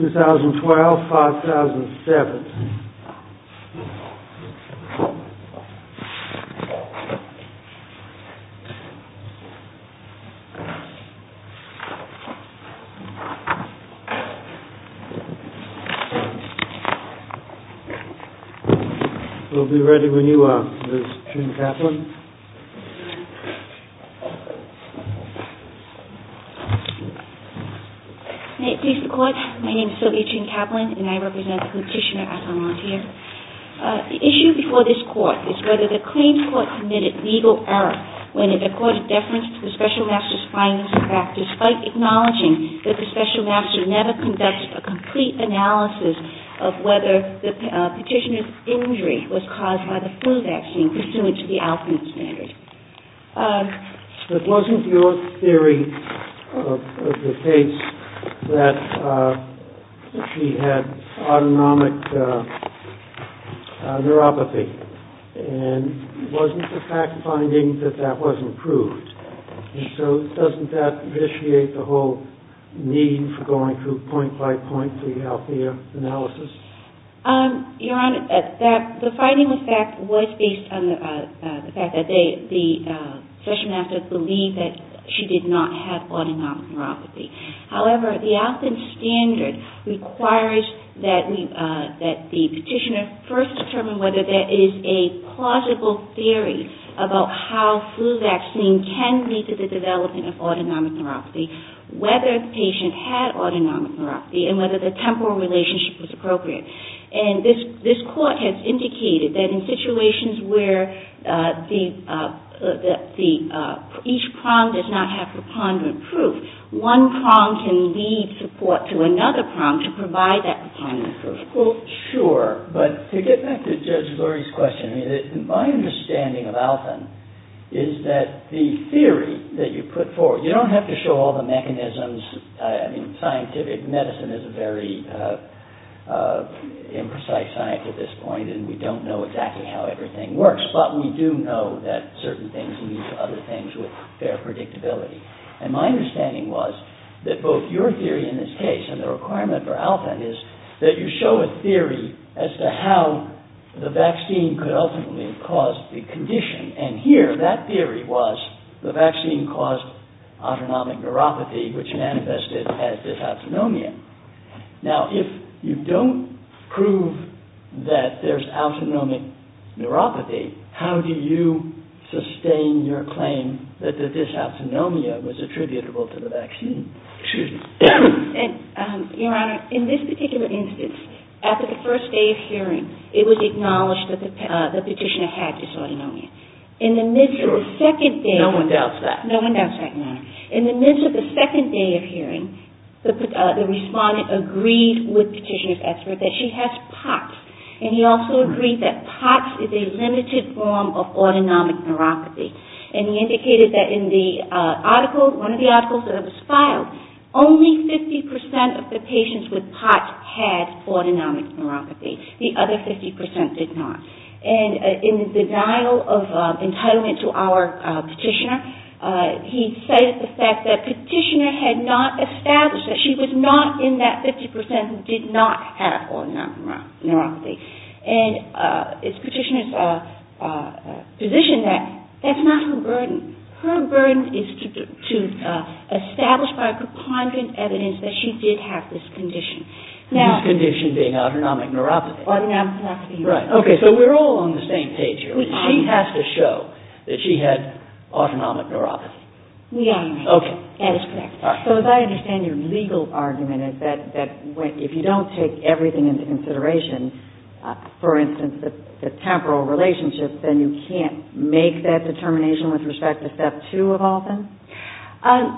2012-2007 We'll be ready when you are, Ms. Jean Kaplan. May it please the Court, my name is Sylvia Jean Kaplan and I represent the Petitioner as a volunteer. The issue before this Court is whether the claimed Court committed legal error when it accorded deference to the Special Master's findings and facts, despite acknowledging that the Special Master never conducted a complete analysis of whether the Petitioner's injury was caused by the flu vaccine pursuant to the ALPIN standard. But wasn't your theory of the case that she had autonomic neuropathy, and wasn't the fact-finding that that was improved? And so doesn't that vitiate the whole need for going through point-by-point the ALPIN analysis? Your Honor, the fact-finding was based on the fact that the Special Master believed that she did not have autonomic neuropathy. However, the ALPIN standard requires that the Petitioner first determine whether there is a plausible theory about how flu vaccine can lead to the development of autonomic neuropathy, whether the patient had autonomic neuropathy, and whether the temporal relationship was appropriate. And this Court has indicated that in situations where each prong does not have preponderant proof, one prong can lead support to another prong to provide that preponderant proof. Well, sure. But to get back to Judge Lurie's question, my understanding of ALPIN is that the theory that you put forward—you don't have to show all the mechanisms. I mean, scientific medicine is a very imprecise science at this point, and we don't know exactly how everything works. But we do know that certain things lead to other things with fair predictability. And my understanding was that both your theory in this case and the requirement for ALPIN is that you show a theory as to how the vaccine could ultimately cause the condition. And here, that theory was the vaccine caused autonomic neuropathy, which manifested as dysautonomia. Now, if you don't prove that there's autonomic neuropathy, how do you sustain your claim that the dysautonomia was attributable to the vaccine? Your Honor, in this particular instance, after the first day of hearing, it was acknowledged that the petitioner had dysautonomia. Sure. No one doubts that. No one doubts that, Your Honor. In the midst of the second day of hearing, the respondent agreed with the petitioner's expert that she has POTS. And he also agreed that POTS is a limited form of autonomic neuropathy. And he indicated that in the article, one of the articles that was filed, only 50% of the patients with POTS had autonomic neuropathy. The other 50% did not. And in the denial of entitlement to our petitioner, he cited the fact that the petitioner had not established that. She was not in that 50% who did not have autonomic neuropathy. And the petitioner's position is that that's not her burden. Her burden is to establish by preponderant evidence that she did have this condition. This condition being autonomic neuropathy. Autonomic neuropathy, Your Honor. Right. Okay. So we're all on the same page here. She has to show that she had autonomic neuropathy. We are, Your Honor. Okay. That is correct. All right. So as I understand, your legal argument is that if you don't take everything into consideration, for instance, the temporal relationship, then you can't make that determination with respect to Step 2 of all things?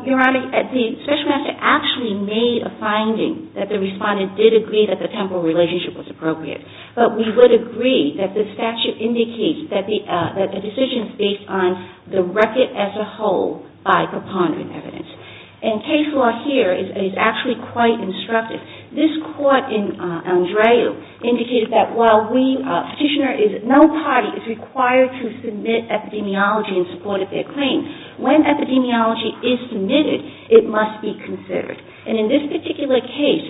Your Honor, the Special Master actually made a finding that the respondent did agree that the temporal relationship was appropriate. But we would agree that the statute indicates that the decision is based on the record as a whole by preponderant evidence. And case law here is actually quite instructive. This court in Andreu indicated that while no party is required to submit epidemiology in support of their claim, when epidemiology is submitted, it must be considered. And in this particular case,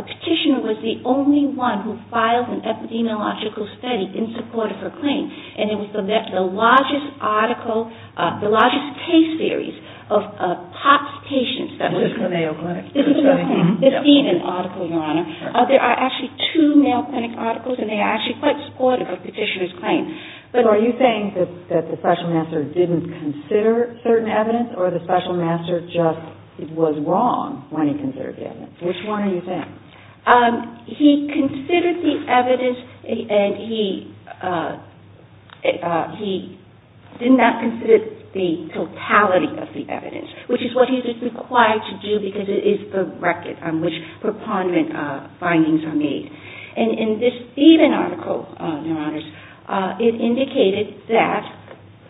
the petitioner was the only one who filed an epidemiological study in support of her claim. And it was the largest article, the largest case series of POPS patients that was... This was the Mayo Clinic? This was the Mayo Clinic. This even article, Your Honor. There are actually two Mayo Clinic articles, and they are actually quite supportive of the petitioner's claim. But are you saying that the Special Master didn't consider certain evidence, or the Special Master just was wrong when he considered the evidence? Which one are you saying? He considered the evidence, and he did not consider the totality of the evidence, which is what he's just required to do because it is the record on which preponderant findings are made. And in this even article, Your Honors, it indicated that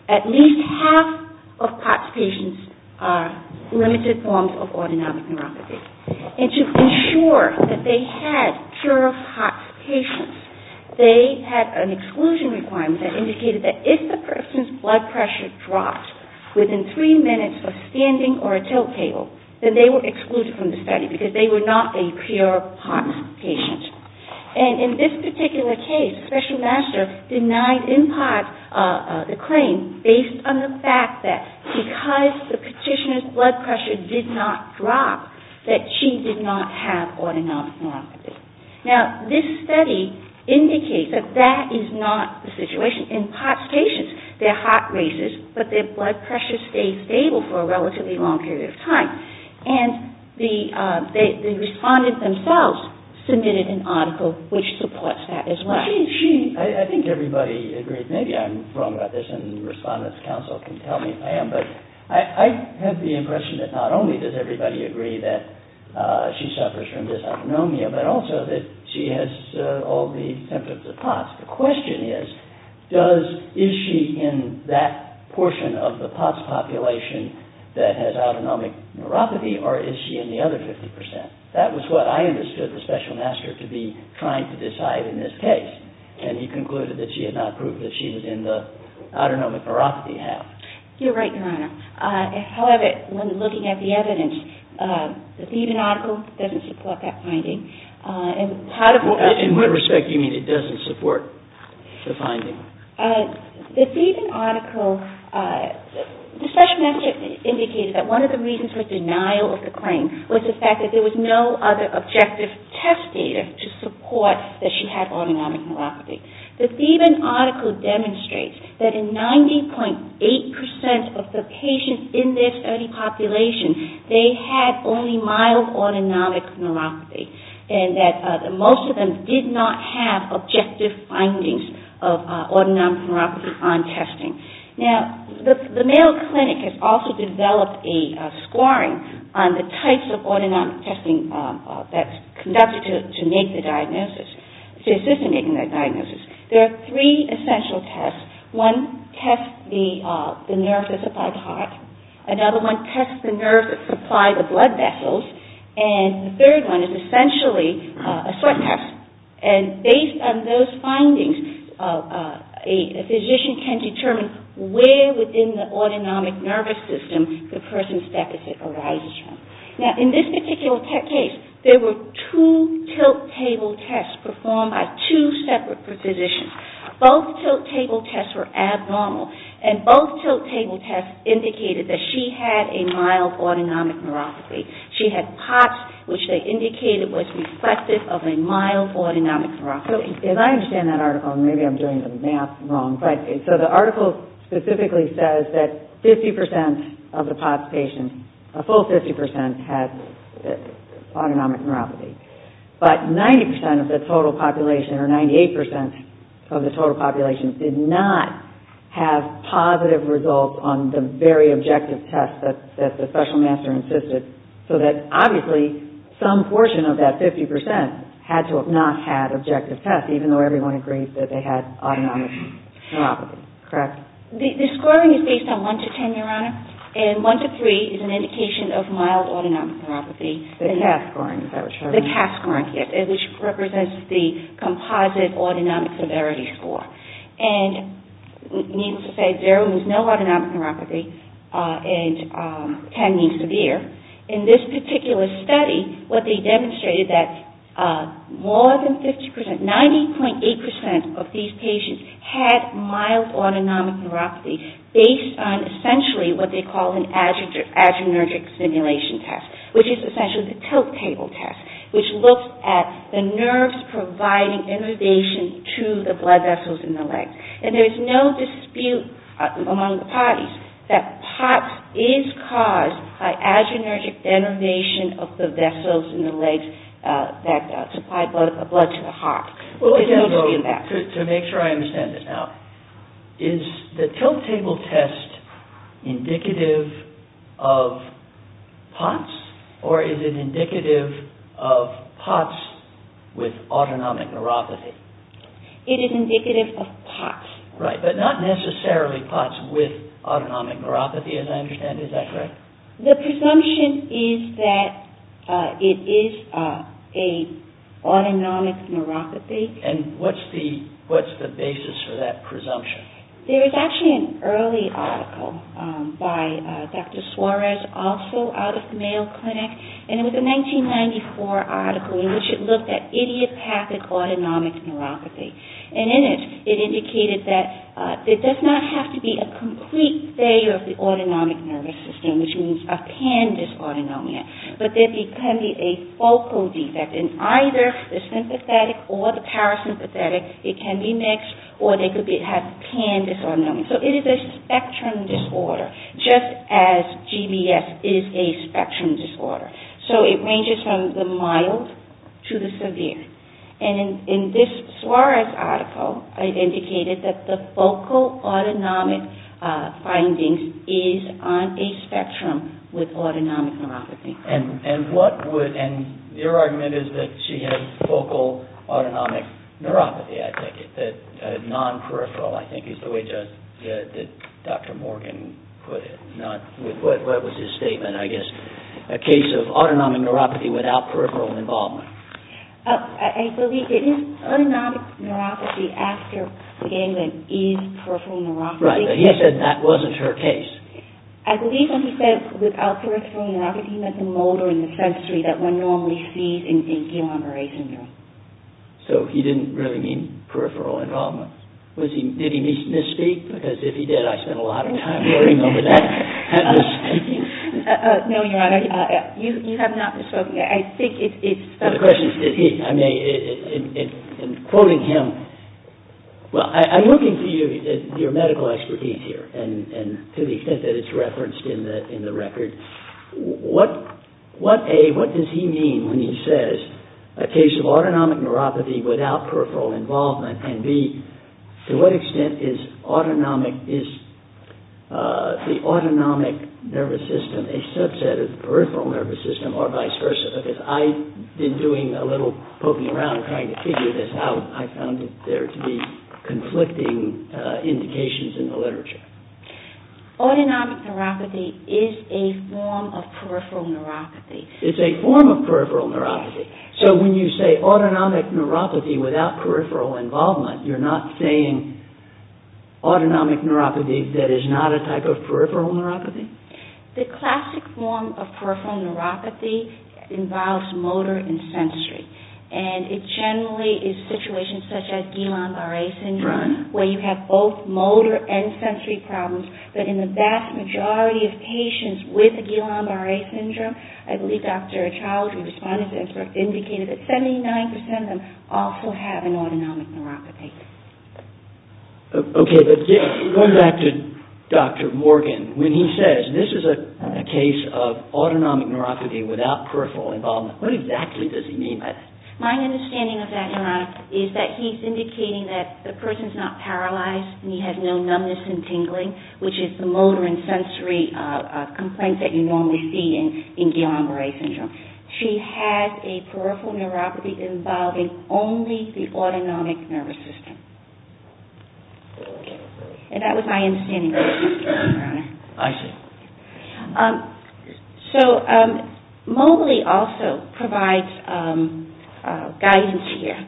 at least half of POPS patients are limited forms of autonomic neuropathy. And to ensure that they had pure POPS patients, they had an exclusion requirement that indicated that if the person's blood pressure dropped within three minutes of standing or a tilt table, then they were excluded from the study because they were not a pure POPS patient. And in this particular case, Special Master denied in POPS the claim based on the fact that because the petitioner's blood pressure did not drop, that she did not have autonomic neuropathy. Now, this study indicates that that is not the situation in POPS patients. Their heart races, but their blood pressure stays stable for a relatively long period of time. And the respondents themselves submitted an article which supports that as well. I think everybody agrees. Maybe I'm wrong about this, and the Respondent's Council can tell me if I am, but I have the impression that not only does everybody agree that she suffers from dysautonomia, but also that she has all the symptoms of POPS. The question is, is she in that portion of the POPS population that has autonomic neuropathy, or is she in the other 50 percent? That was what I understood the Special Master to be trying to decide in this case, and he concluded that she had not proved that she was in the autonomic neuropathy half. You're right, Your Honor. However, when looking at the evidence, the Thevenin article doesn't support that finding. In what respect do you mean it doesn't support the finding? The Thevenin article, the Special Master indicated that one of the reasons for denial of the claim was the fact that there was no other objective test data to support that she had autonomic neuropathy. The Thevenin article demonstrates that in 90.8 percent of the patients in this study population, they had only mild autonomic neuropathy, and that most of them did not have objective findings of autonomic neuropathy on testing. Now, the Mayo Clinic has also developed a scoring on the types of autonomic testing that's conducted to make the diagnosis, to assist in making that diagnosis. There are three essential tests. One tests the nerve that's applied to the heart. Another one tests the nerves that supply the blood vessels. And the third one is essentially a sweat test. And based on those findings, a physician can determine where within the autonomic nervous system the person's deficit arises from. Now, in this particular case, there were two tilt table tests performed by two separate physicians. Both tilt table tests were abnormal, and both tilt table tests indicated that she had a mild autonomic neuropathy. She had POTS, which they indicated was reflective of a mild autonomic neuropathy. So, as I understand that article, and maybe I'm doing the math wrong, but so the article specifically says that 50 percent of the POTS patients, a full 50 percent, had autonomic neuropathy. But 90 percent of the total population, or 98 percent of the total population, did not have positive results on the very objective tests that the special master insisted, so that obviously some portion of that 50 percent had to have not had objective tests, even though everyone agreed that they had autonomic neuropathy. Correct? The scoring is based on 1 to 10, Your Honor. And 1 to 3 is an indication of mild autonomic neuropathy. The CAS scoring, is that what you're referring to? The CAS scoring, yes, which represents the composite autonomic severity score. And needless to say, zero means no autonomic neuropathy, and 10 means severe. In this particular study, what they demonstrated that more than 50 percent, 90.8 percent of these patients had mild autonomic neuropathy based on essentially what they call an adrenergic stimulation test, which is essentially the tilt table test, which looks at the nerves providing innervation to the blood vessels in the legs. And there's no dispute among the parties that POTS is caused by adrenergic innervation of the vessels in the legs that supply blood to the heart. To make sure I understand this now, is the tilt table test indicative of POTS, or is it indicative of POTS with autonomic neuropathy? It is indicative of POTS. Right, but not necessarily POTS with autonomic neuropathy, as I understand. Is that correct? The presumption is that it is an autonomic neuropathy. And what's the basis for that presumption? There is actually an early article by Dr. Suarez, also out of the Mayo Clinic, and it was a 1994 article in which it looked at idiopathic autonomic neuropathy. And in it, it indicated that it does not have to be a complete failure of the autonomic nervous system, which means a pan-disautonomic. But there can be a focal defect in either the sympathetic or the parasympathetic. It can be mixed, or they could have pan-disautonomic. So it is a spectrum disorder, just as GBS is a spectrum disorder. And in this Suarez article, it indicated that the focal autonomic findings is on a spectrum with autonomic neuropathy. And your argument is that she had focal autonomic neuropathy, I take it. Non-peripheral, I think, is the way Dr. Morgan put it. What was his statement, I guess? A case of autonomic neuropathy without peripheral involvement. I believe that his autonomic neuropathy after ganglion is peripheral neuropathy. Right, but he said that wasn't her case. I believe when he said without peripheral neuropathy, he meant the motor and the sensory that one normally sees in Guillain-Barre syndrome. So he didn't really mean peripheral involvement. Did he misspeak? Because if he did, I spent a lot of time worrying over that. No, Your Honor, you have not misspoken. I think it's... The question is, did he? I mean, in quoting him... Well, I'm looking for your medical expertise here, and to the extent that it's referenced in the record. What, A, what does he mean when he says a case of autonomic neuropathy without peripheral involvement, and B, to what extent is the autonomic nervous system a subset of the peripheral nervous system, or vice versa? Because I've been doing a little poking around trying to figure this out. I found there to be conflicting indications in the literature. Autonomic neuropathy is a form of peripheral neuropathy. It's a form of peripheral neuropathy. So when you say autonomic neuropathy without peripheral involvement, you're not saying autonomic neuropathy that is not a type of peripheral neuropathy? The classic form of peripheral neuropathy involves motor and sensory, and it generally is situations such as Guillain-Barre syndrome, where you have both motor and sensory problems, but in the vast majority of patients with Guillain-Barre syndrome, I believe Dr. Child, who responded to this, indicated that 79% of them also have an autonomic neuropathy. Okay, but going back to Dr. Morgan, when he says this is a case of autonomic neuropathy without peripheral involvement, what exactly does he mean by that? My understanding of that, Your Honor, is that he's indicating that the person's not paralyzed, and he has no numbness and tingling, which is the motor and sensory complaint that you normally see in Guillain-Barre syndrome. She has a peripheral neuropathy involving only the autonomic nervous system. And that was my understanding of that, Your Honor. I see. So Mobley also provides guidance here.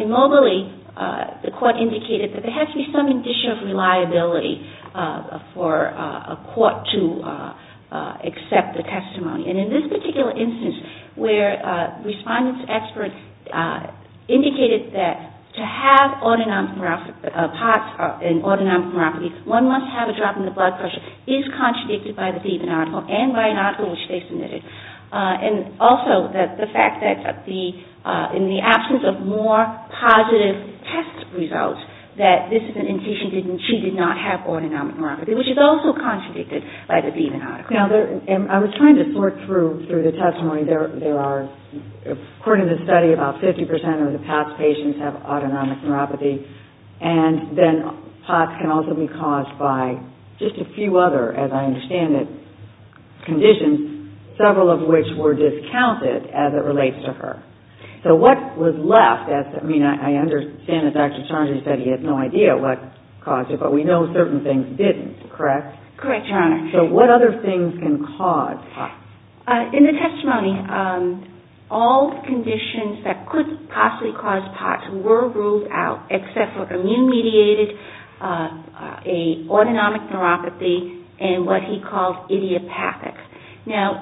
In Mobley, the court indicated that there has to be some condition of reliability for a court to accept the testimony. And in this particular instance, where respondents, experts, indicated that to have autonomic neuropathy, one must have a drop in the blood pressure, is contradicted by the deviant article and by an article which they submitted. And also the fact that in the absence of more positive test results, that this is an indication that she did not have autonomic neuropathy, which is also contradicted by the deviant article. I was trying to sort through the testimony. According to the study, about 50% of the POTS patients have autonomic neuropathy, and then POTS can also be caused by just a few other, as I understand it, conditions. Several of which were discounted as it relates to her. So what was left? I mean, I understand that Dr. Charnley said he had no idea what caused it, but we know certain things didn't, correct? Correct, Your Honor. So what other things can cause POTS? In the testimony, all conditions that could possibly cause POTS were ruled out except for immune-mediated autonomic neuropathy and what he called idiopathic. Now,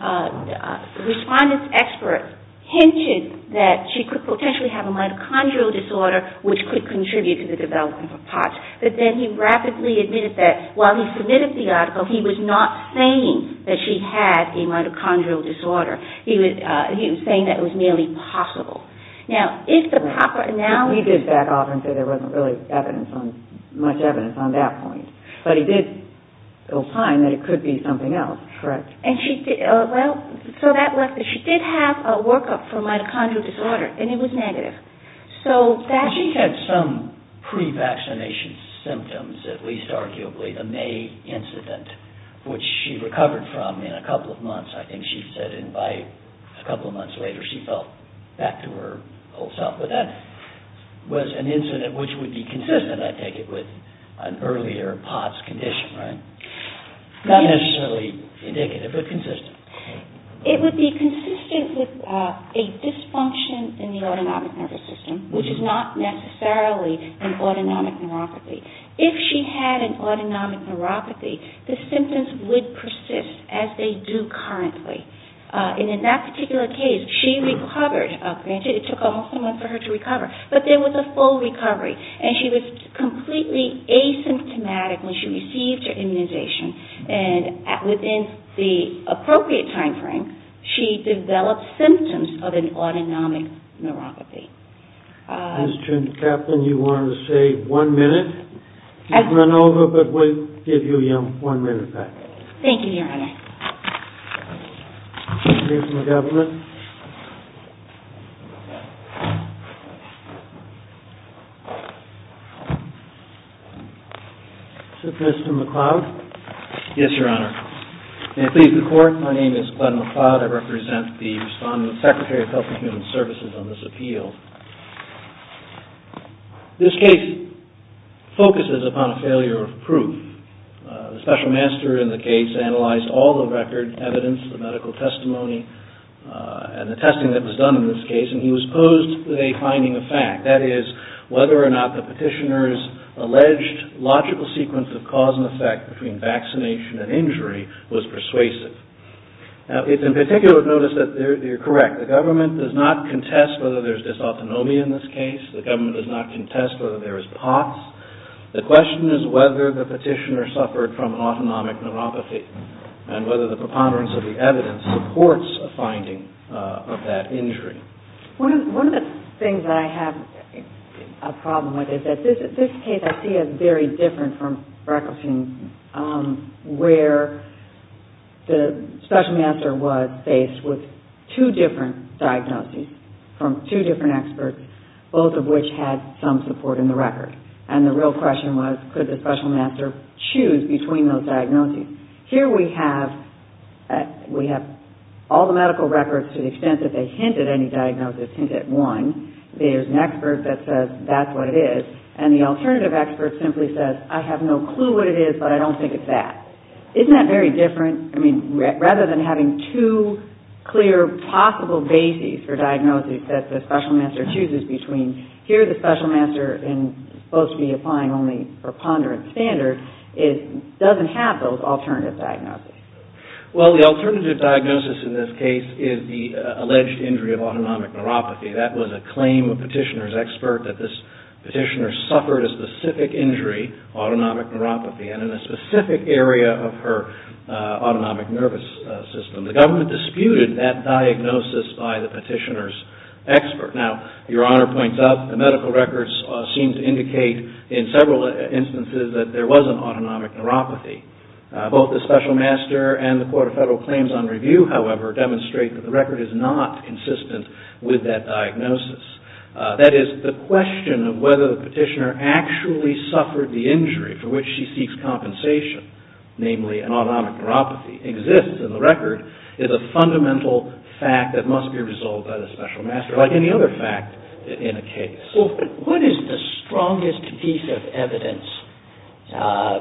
the respondent's expert hinted that she could potentially have a mitochondrial disorder which could contribute to the development of POTS. But then he rapidly admitted that while he submitted the article, he was not saying that she had a mitochondrial disorder. He was saying that it was merely possible. Now, if the proper analysis... He did back off and say there wasn't really much evidence on that point. But he did assign that it could be something else. Correct. So that left it. She did have a workup for mitochondrial disorder, and it was negative. She had some pre-vaccination symptoms, at least arguably. The May incident, which she recovered from in a couple of months, I think she said, and by a couple of months later she felt back to her old self. But that was an incident which would be consistent, I take it, with an earlier POTS condition, right? Not necessarily indicative, but consistent. It would be consistent with a dysfunction in the autonomic nervous system, which is not necessarily an autonomic neuropathy. If she had an autonomic neuropathy, the symptoms would persist as they do currently. And in that particular case, she recovered. Granted, it took almost a month for her to recover, but there was a full recovery. And she was completely asymptomatic when she received her immunization. And within the appropriate timeframe, she developed symptoms of an autonomic neuropathy. Ms. Trent-Kaplan, you wanted to say one minute? You can run over, but we'll give you your one minute back. Thank you, Your Honor. Mr. McLeod? Yes, Your Honor. May it please the Court, my name is Glenn McLeod. I represent the respondent, Secretary of Health and Human Services, on this appeal. This case focuses upon a failure of proof. The special master in the case analyzed all the evidence. The medical testimony and the testing that was done in this case. And he was posed with a finding of fact. That is, whether or not the petitioner's alleged logical sequence of cause and effect between vaccination and injury was persuasive. Now, it's in particular of notice that you're correct. The government does not contest whether there's dysautonomia in this case. The government does not contest whether there is POTS. The question is whether the petitioner suffered from an autonomic neuropathy. And whether the preponderance of the evidence supports a finding of that injury. One of the things that I have a problem with is that this case I see as very different from Breckelstein, where the special master was faced with two different diagnoses from two different experts, both of which had some support in the record. And the real question was, could the special master choose between those diagnoses? Here we have all the medical records to the extent that they hint at any diagnosis, hint at one. There's an expert that says that's what it is. And the alternative expert simply says, I have no clue what it is, but I don't think it's that. Isn't that very different? I mean, rather than having two clear possible bases for diagnoses that the special master chooses between, here the special master is supposed to be applying only preponderance standards. It doesn't have those alternative diagnoses. Well, the alternative diagnosis in this case is the alleged injury of autonomic neuropathy. That was a claim of a petitioner's expert that this petitioner suffered a specific injury, autonomic neuropathy, and in a specific area of her autonomic nervous system. Now, Your Honor points out the medical records seem to indicate in several instances that there was an autonomic neuropathy. Both the special master and the Court of Federal Claims on Review, however, demonstrate that the record is not consistent with that diagnosis. That is, the question of whether the petitioner actually suffered the injury for which she seeks compensation, namely an autonomic neuropathy, exists in the record, is a fundamental fact that must be resolved by the special master, like any other fact in a case. Well, what is the strongest piece of evidence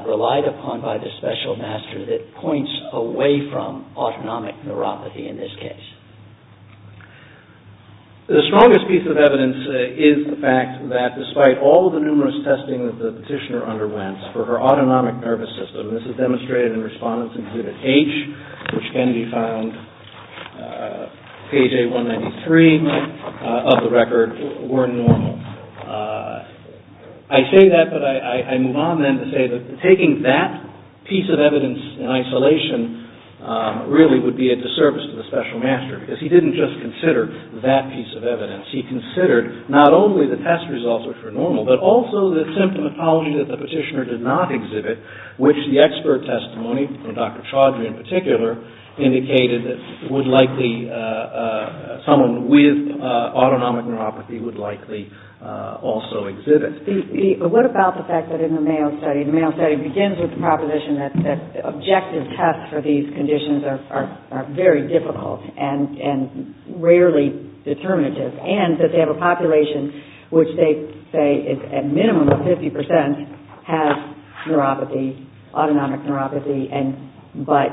relied upon by the special master that points away from autonomic neuropathy in this case? The strongest piece of evidence is the fact that despite all the numerous testing that the petitioner underwent for her autonomic nervous system, this is demonstrated in Respondent's Exhibit H, which can be found page A193 of the record, were normal. I say that, but I move on then to say that taking that piece of evidence in isolation really would be a disservice to the special master because he didn't just consider that piece of evidence. He considered not only the test results, which were normal, but also the symptomatology that the petitioner did not exhibit, which the expert testimony, from Dr. Chaudry in particular, indicated that someone with autonomic neuropathy would likely also exhibit. But what about the fact that in the Mayo Study, the Mayo Study begins with the proposition that objective tests for these conditions are very difficult and rarely determinative, and that they have a population which they say is at minimum of 50% has neuropathy, autonomic neuropathy, but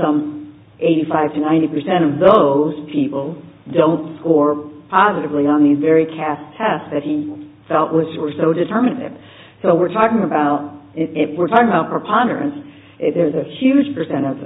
some 85 to 90% of those people don't score positively on these very cast tests that he felt were so determinative. So we're talking about preponderance. There's a huge percentage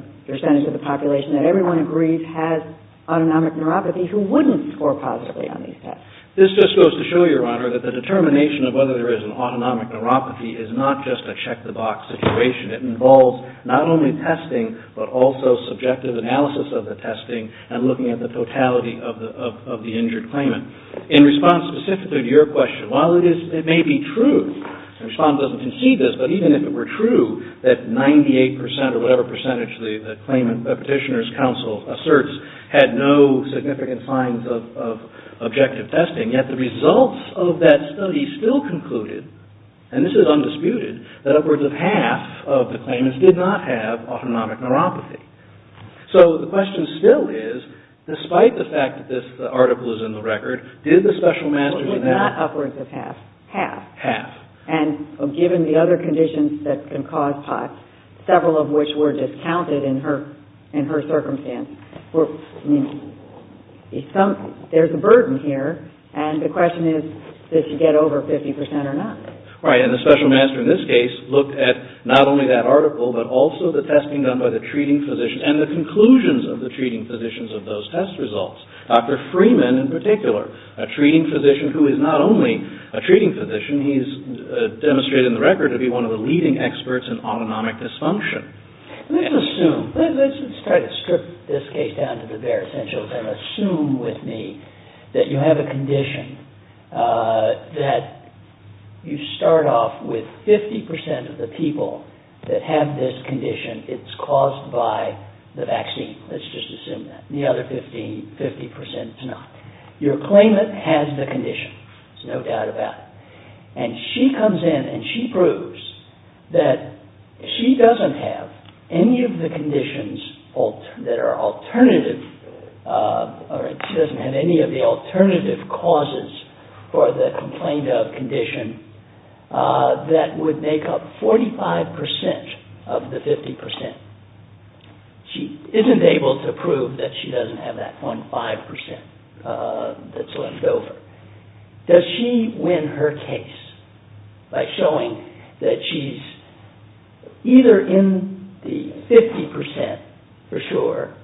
of the population that everyone agrees has autonomic neuropathy who wouldn't score positively on these tests. This just goes to show you, Your Honor, that the determination of whether there is an autonomic neuropathy is not just a check-the-box situation. It involves not only testing, but also subjective analysis of the testing and looking at the totality of the injured claimant. In response specifically to your question, while it may be true, and respond doesn't concede this, but even if it were true that 98% or whatever percentage the claimant petitioner's counsel asserts had no significant signs of objective testing, yet the results of that study still concluded, and this is undisputed, that upwards of half of the claimants did not have autonomic neuropathy. So the question still is, despite the fact that this article is in the record, did the special master... It was not upwards of half. Half. Half. And given the other conditions that can cause POTS, several of which were discounted in her circumstance, there's a burden here, and the question is, did she get over 50% or not? Right, and the special master in this case looked at not only that article, but also the testing done by the treating physician and the conclusions of the treating physicians of those test results. Dr. Freeman in particular, a treating physician who is not only a treating physician, he's demonstrated in the record to be one of the leading experts in autonomic dysfunction. Let's assume, let's try to strip this case down to the bare essentials and assume with me that you have a condition that you start off with 50% of the people that have this condition, it's caused by the vaccine. Let's just assume that. The other 50% do not. Your claimant has the condition. There's no doubt about it. And she comes in and she proves that she doesn't have any of the conditions that are alternative, or she doesn't have any of the alternative causes for the complained of condition that would make up 45% of the 50%. She isn't able to prove that she doesn't have that 0.5% that's left over. Does she win her case by showing that she's either in the 50% for sure,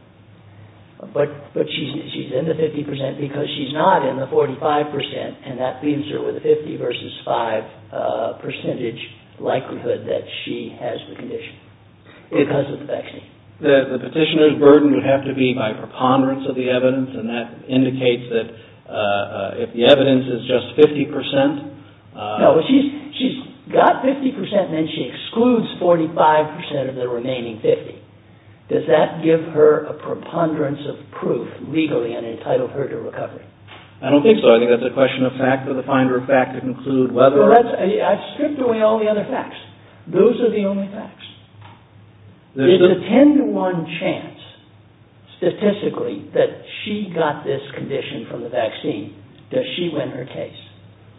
but she's in the 50% because she's not in the 45% and that leaves her with a 50 versus 5 percentage likelihood that she has the condition because of the vaccine? The petitioner's burden would have to be by preponderance of the evidence and that indicates that if the evidence is just 50% No, she's got 50% and then she excludes 45% of the remaining 50. Does that give her a preponderance of proof legally and entitle her to recovery? I don't think so. I think that's a question of fact for the finder of fact to conclude whether or not I've stripped away all the other facts. Those are the only facts. There's a 10 to 1 chance statistically that she got this condition from the vaccine. Does she win her case?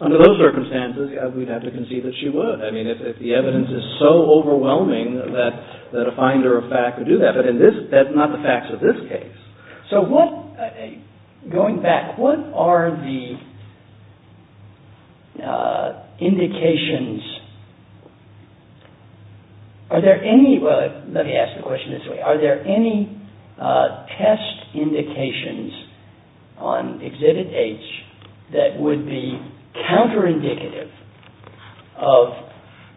Under those circumstances, we'd have to concede that she would. I mean, if the evidence is so overwhelming that a finder of fact would do that. But that's not the facts of this case. Going back, what are the indications... Let me ask the question this way. Are there any test indications on Exhibit H that would be counter-indicative of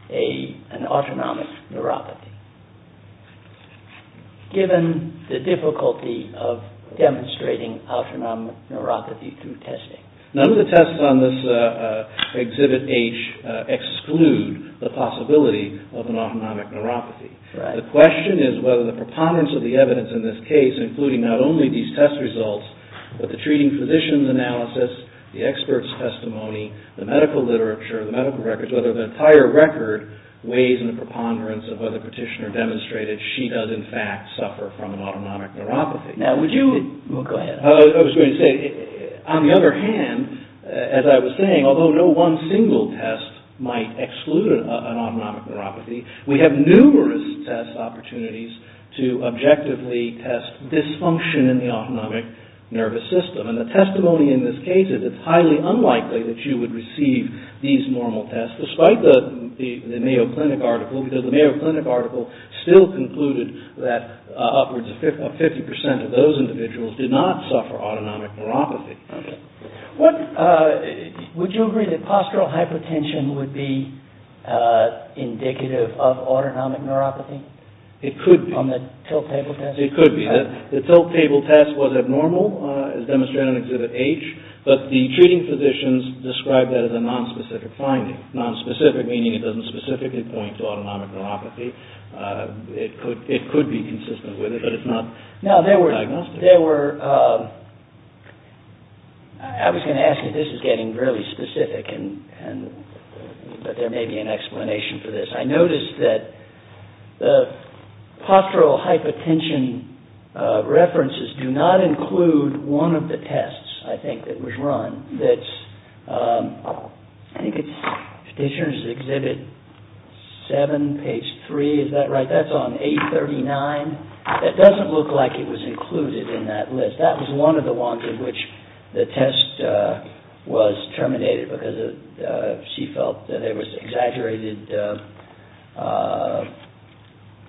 an autonomic neuropathy? Given the difficulty of demonstrating autonomic neuropathy through testing. None of the tests on this Exhibit H exclude the possibility of an autonomic neuropathy. The question is whether the preponderance of the evidence in this case, including not only these test results, but the treating physician's analysis, the expert's testimony, the medical literature, the medical records, whether the entire record weighs in the preponderance of whether the petitioner demonstrated she does in fact suffer from an autonomic neuropathy. Now, would you... Go ahead. I was going to say, on the other hand, as I was saying, although no one single test might exclude an autonomic neuropathy, we have numerous test opportunities to objectively test dysfunction in the autonomic nervous system. And the testimony in this case is it's highly unlikely that you would receive these normal tests, despite the Mayo Clinic article, because the Mayo Clinic article still concluded that upwards of 50% of those individuals did not suffer autonomic neuropathy. Would you agree that postural hypertension would be indicative of autonomic neuropathy? It could be. On the tilt table test? It could be. The tilt table test was abnormal, as demonstrated in Exhibit H, but the treating physicians described that as a nonspecific finding. Nonspecific meaning it doesn't specifically point to autonomic neuropathy. It could be consistent with it, but it's not diagnostic. Now, there were... I was going to ask you, this is getting really specific, but there may be an explanation for this. I noticed that the postural hypertension references do not include one of the tests, I think, that was run. That's... I think it's Physicians' Exhibit 7, page 3, is that right? That's on 839. That doesn't look like it was included in that list. That was one of the ones in which the test was terminated because she felt that there was exaggerated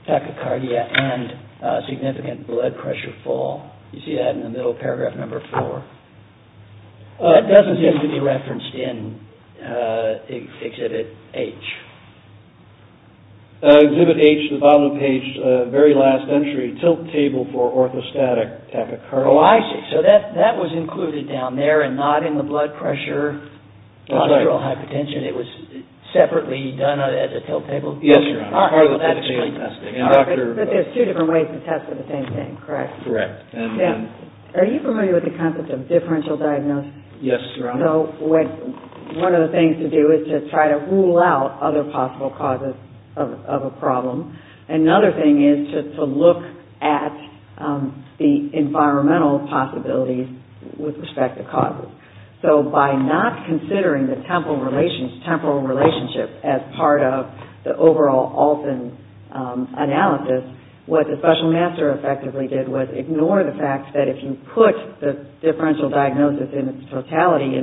tachycardia and significant blood pressure fall. You see that in the middle of paragraph number 4. That doesn't seem to be referenced in Exhibit H. Exhibit H, the bottom of page, very last entry, tilt table for orthostatic tachycardia. Oh, I see. So that was included down there and not in the blood pressure, postural hypertension. It was separately done as a tilt table? Yes, Your Honor. But there's two different ways to test for the same thing, correct? Correct. Are you familiar with the concept of differential diagnosis? Yes, Your Honor. One of the things to do is to try to rule out other possible causes of a problem. Another thing is to look at the environmental possibilities with respect to causes. So by not considering the temporal relationship as part of the overall Olson analysis, what the special master effectively did was ignore the fact that if you put the differential diagnosis in its totality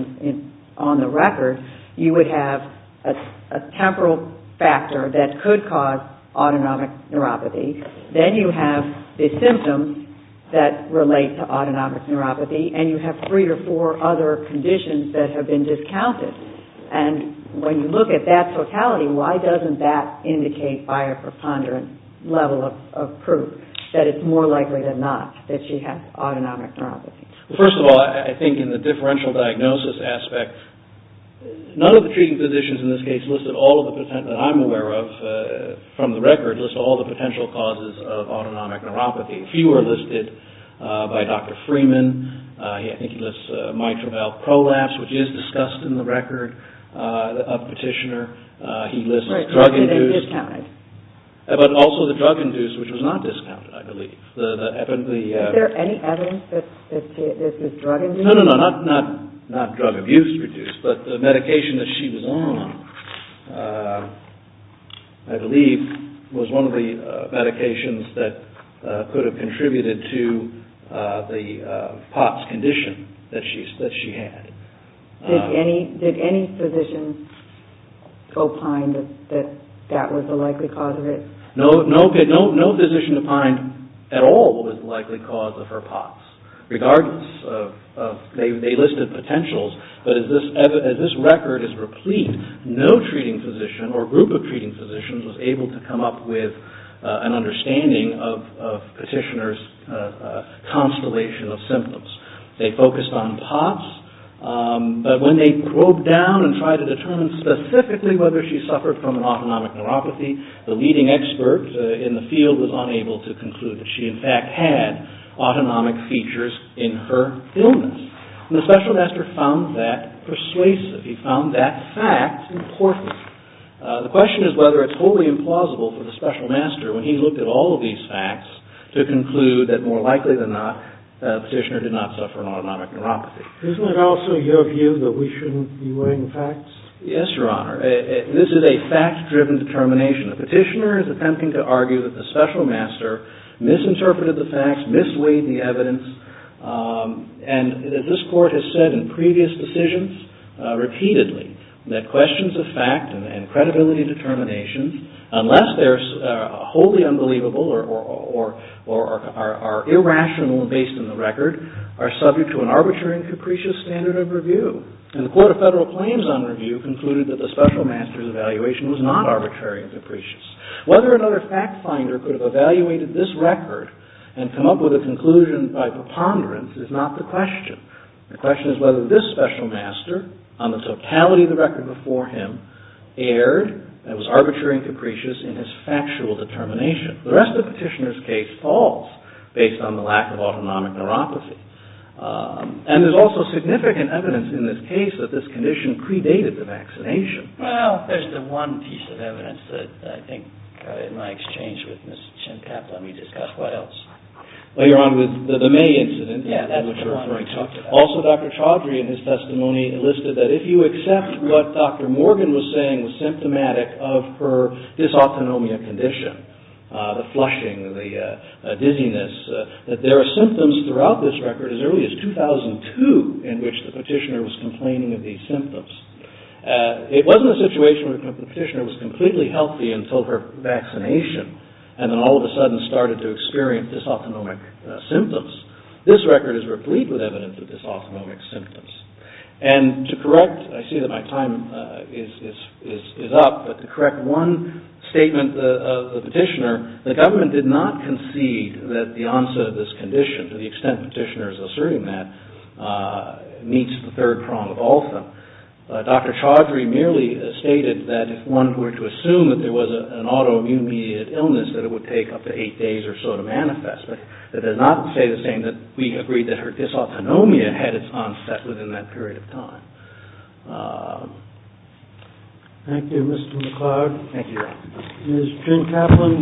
on the record, you would have a temporal factor that could cause autonomic neuropathy. Then you have the symptoms that relate to autonomic neuropathy, and you have three or four other conditions that have been discounted. And when you look at that totality, why doesn't that indicate by a preponderant level of proof that it's more likely than not that she has autonomic neuropathy? First of all, I think in the differential diagnosis aspect, none of the treating physicians in this case listed all of the potential, that I'm aware of, from the record, list all the potential causes of autonomic neuropathy. Few are listed by Dr. Freeman. I think he lists mitral valve prolapse, which is discussed in the record of Petitioner. He lists drug-induced. But also the drug-induced, which was not discounted, I believe. Is there any evidence that this is drug-induced? No, not drug-induced, but the medication that she was on, I believe, was one of the medications that could have contributed to the POTS condition that she had. Did any physician opine that that was the likely cause of it? No physician opined at all that it was the likely cause of her POTS, regardless of, they listed potentials, but as this record is replete, no treating physician or group of treating physicians was able to come up with an understanding of Petitioner's constellation of symptoms. They focused on POTS, but when they probed down and tried to determine specifically whether she suffered from autonomic neuropathy, the leading expert in the field was unable to conclude that she, in fact, had autonomic features in her illness. And the special master found that persuasive. He found that fact important. The question is whether it's wholly implausible for the special master, when he looked at all of these facts, to conclude that more likely than not, Petitioner did not suffer from autonomic neuropathy. Isn't it also your view that we shouldn't be weighing facts? Yes, Your Honor. This is a fact-driven determination. Petitioner is attempting to argue that the special master misinterpreted the facts, misweighed the evidence, and this Court has said in previous decisions repeatedly that questions of fact and credibility and determination, unless they're wholly unbelievable or are irrational and based on the record, are subject to an arbitrary and capricious standard of review. And the Court of Federal Claims, on review, concluded that the special master's evaluation was not arbitrary and capricious. Whether another fact finder could have evaluated this record and come up with a conclusion by preponderance is not the question. The question is whether this special master, on the totality of the record before him, erred and was arbitrary and capricious in his factual determination. The rest of Petitioner's case falls based on the lack of autonomic neuropathy. And there's also significant evidence in this case that this condition predated the vaccination. Well, there's the one piece of evidence that I think, in my exchange with Ms. Chintapp, let me discuss what else. Well, you're on with the May incident, which you're referring to. Also, Dr. Chaudhry, in his testimony, listed that if you accept what Dr. Morgan was saying was symptomatic of her dysautonomia condition, the flushing, the dizziness, that there are symptoms throughout this record as early as 2002 in which the Petitioner was complaining of these symptoms. It wasn't a situation where the Petitioner was completely healthy until her vaccination and then all of a sudden started to experience dysautonomic symptoms. This record is replete with evidence of dysautonomic symptoms. And to correct, I see that my time is up, but to correct one statement of the Petitioner, the government did not concede that the onset of this condition, to the extent the Petitioner is asserting that, meets the third prong of all of them. Dr. Chaudhry merely stated that if one were to assume that there was an autoimmune-mediated illness, that it would take up to eight days or so to manifest. But it does not say the same that we agree that her dysautonomia had its onset within that period of time. Thank you, Mr. McCloud. Thank you. Ms. Jen Kaplan,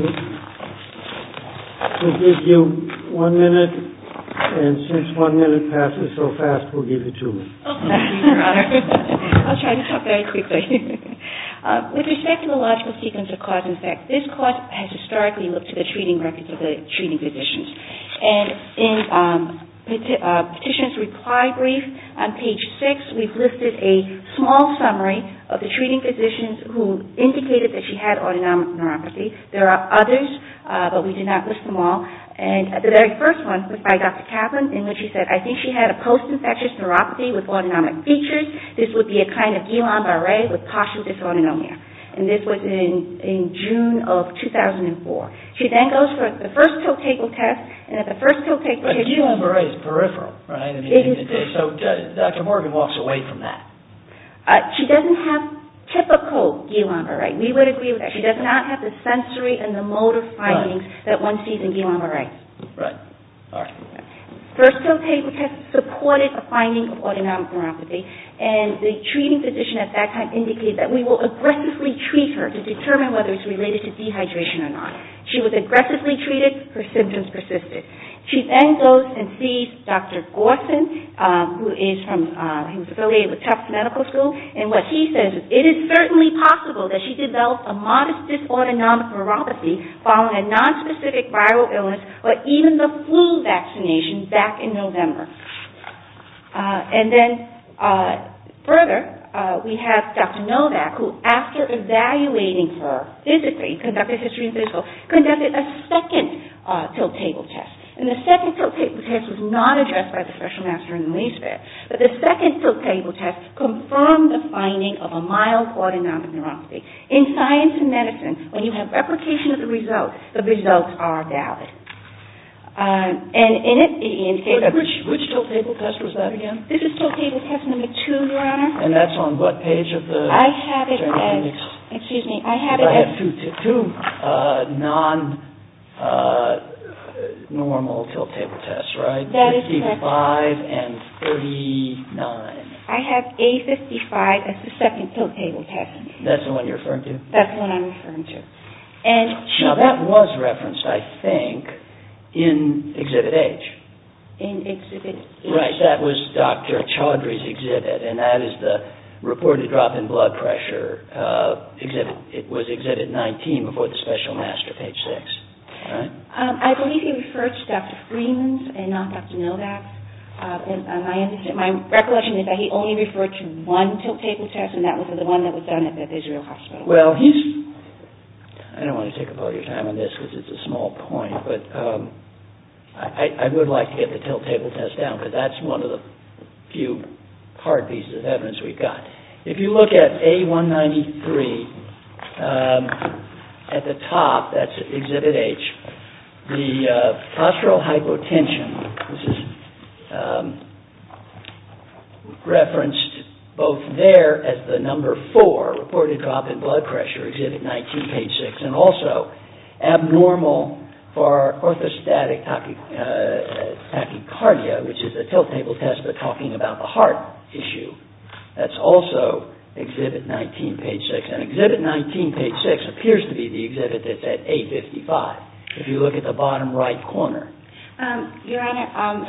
we'll give you one minute. And since one minute passes so fast, we'll give you two minutes. Okay, Your Honor. I'll try to talk very quickly. With respect to the logical sequence of cause and effect, this court has historically looked at the treating records of the treating physicians. And in Petitioner's reply brief on page six, we've listed a small summary of the treating physicians who indicated that she had autonomic neuropathy. There are others, but we did not list them all. And the very first one was by Dr. Kaplan, in which she said, I think she had a post-infectious neuropathy with autonomic features. This would be a kind of Guillain-Barre with partial dysautonomia. And this was in June of 2004. She then goes for the first toe-table test, and at the first toe-table test... But Guillain-Barre is peripheral, right? So Dr. Morgan walks away from that. She doesn't have typical Guillain-Barre. We would agree with that. She does not have the sensory and the motor findings that one sees in Guillain-Barre. Right. First toe-table test supported a finding of autonomic neuropathy. And the treating physician at that time indicated that we will aggressively treat her to determine whether it's related to dehydration or not. She was aggressively treated. Her symptoms persisted. She then goes and sees Dr. Gorson, who is affiliated with Tufts Medical School, and what he says is, it is certainly possible that she developed a modest dysautonomic neuropathy following a nonspecific viral illness or even the flu vaccination back in November. And then further, we have Dr. Novak, who after evaluating her physically, conducted history and physical, conducted a second toe-table test. And the second toe-table test was not addressed by the special master in the least bit. But the second toe-table test confirmed the finding of a mild autonomic neuropathy. In science and medicine, when you have replication of the result, the results are valid. And in it... Which toe-table test was that again? This is toe-table test number two, Your Honor. And that's on what page of the... I have it as... Excuse me. I have it as... Two non-normal toe-table tests, right? A55 and 39. I have A55 as the second toe-table test. That's the one you're referring to? That's the one I'm referring to. Now, that was referenced, I think, in Exhibit H. In Exhibit H? Right. That was Dr. Chaudhry's exhibit, and that is the reported drop in blood pressure exhibit. It was Exhibit 19 before the special master, page 6. I believe he referred to Dr. Freeman's and not Dr. Novak's. My recollection is that he only referred to one toe-table test, and that was the one that was done at the Israel Hospital. Well, he's... I don't want to take up all your time on this, because it's a small point, but I would like to get the toe-table test down, because that's one of the few hard pieces of evidence we've got. If you look at A193, at the top, that's Exhibit H, the postural hypotension, referenced both there as the number 4, reported drop in blood pressure, Exhibit 19, page 6, and also abnormal for orthostatic tachycardia, which is a toe-table test, but talking about the heart issue. That's also Exhibit 19, page 6. Exhibit 19, page 6, appears to be the exhibit that's at A55, if you look at the bottom right corner. Your Honor,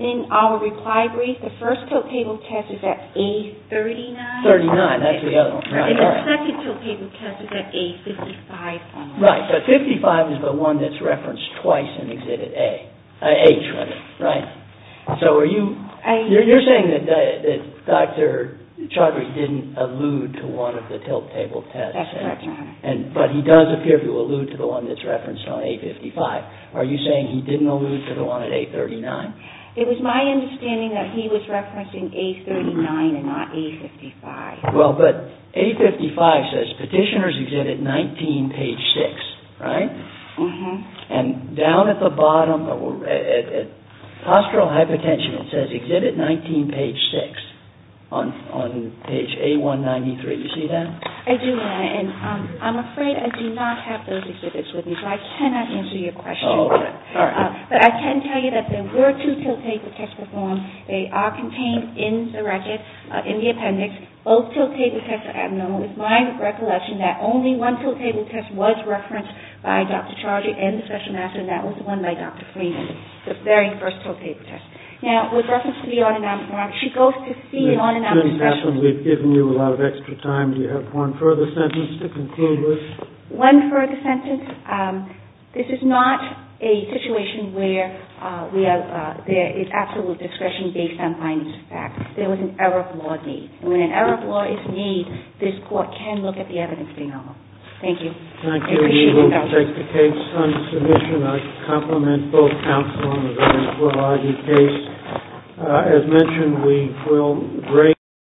in our reply brief, the first toe-table test is at A39. 39, that's the other one. And the second toe-table test is at A55. Right, but 55 is the one that's referenced twice in Exhibit H, right? So you're saying that Dr. Chodry didn't allude to one of the toe-table tests. That's correct, Your Honor. But he does appear to allude to the one that's referenced on A55. Are you saying he didn't allude to the one at A39? It was my understanding that he was referencing A39 and not A55. Well, but A55 says Petitioner's Exhibit 19, page 6, right? Mm-hmm. And down at the bottom, at postural hypotension, it says Exhibit 19, page 6, on page A193. Do you see that? I do, Your Honor. And I'm afraid I do not have those exhibits with me, so I cannot answer your question. But I can tell you that there were two toe-table tests performed. They are contained in the record, in the appendix. Both toe-table tests are abnormal. It's my recollection that only one toe-table test was referenced by Dr. Chodry and the Special Master, and that was the one by Dr. Freeman, the very first toe-table test. Now, with reference to the on-and-off norm, she goes to C, on-and-off discretion. Ms. Chin, we've given you a lot of extra time. Do you have one further sentence to conclude with? One further sentence. This is not a situation where there is absolute discretion based on finest facts. There was an error of law made. And when an error of law is made, this Court can look at the evidence being held. Thank you. Thank you. We will take the case on submission. I compliment both counsel and the defense for the case. As mentioned, we will break.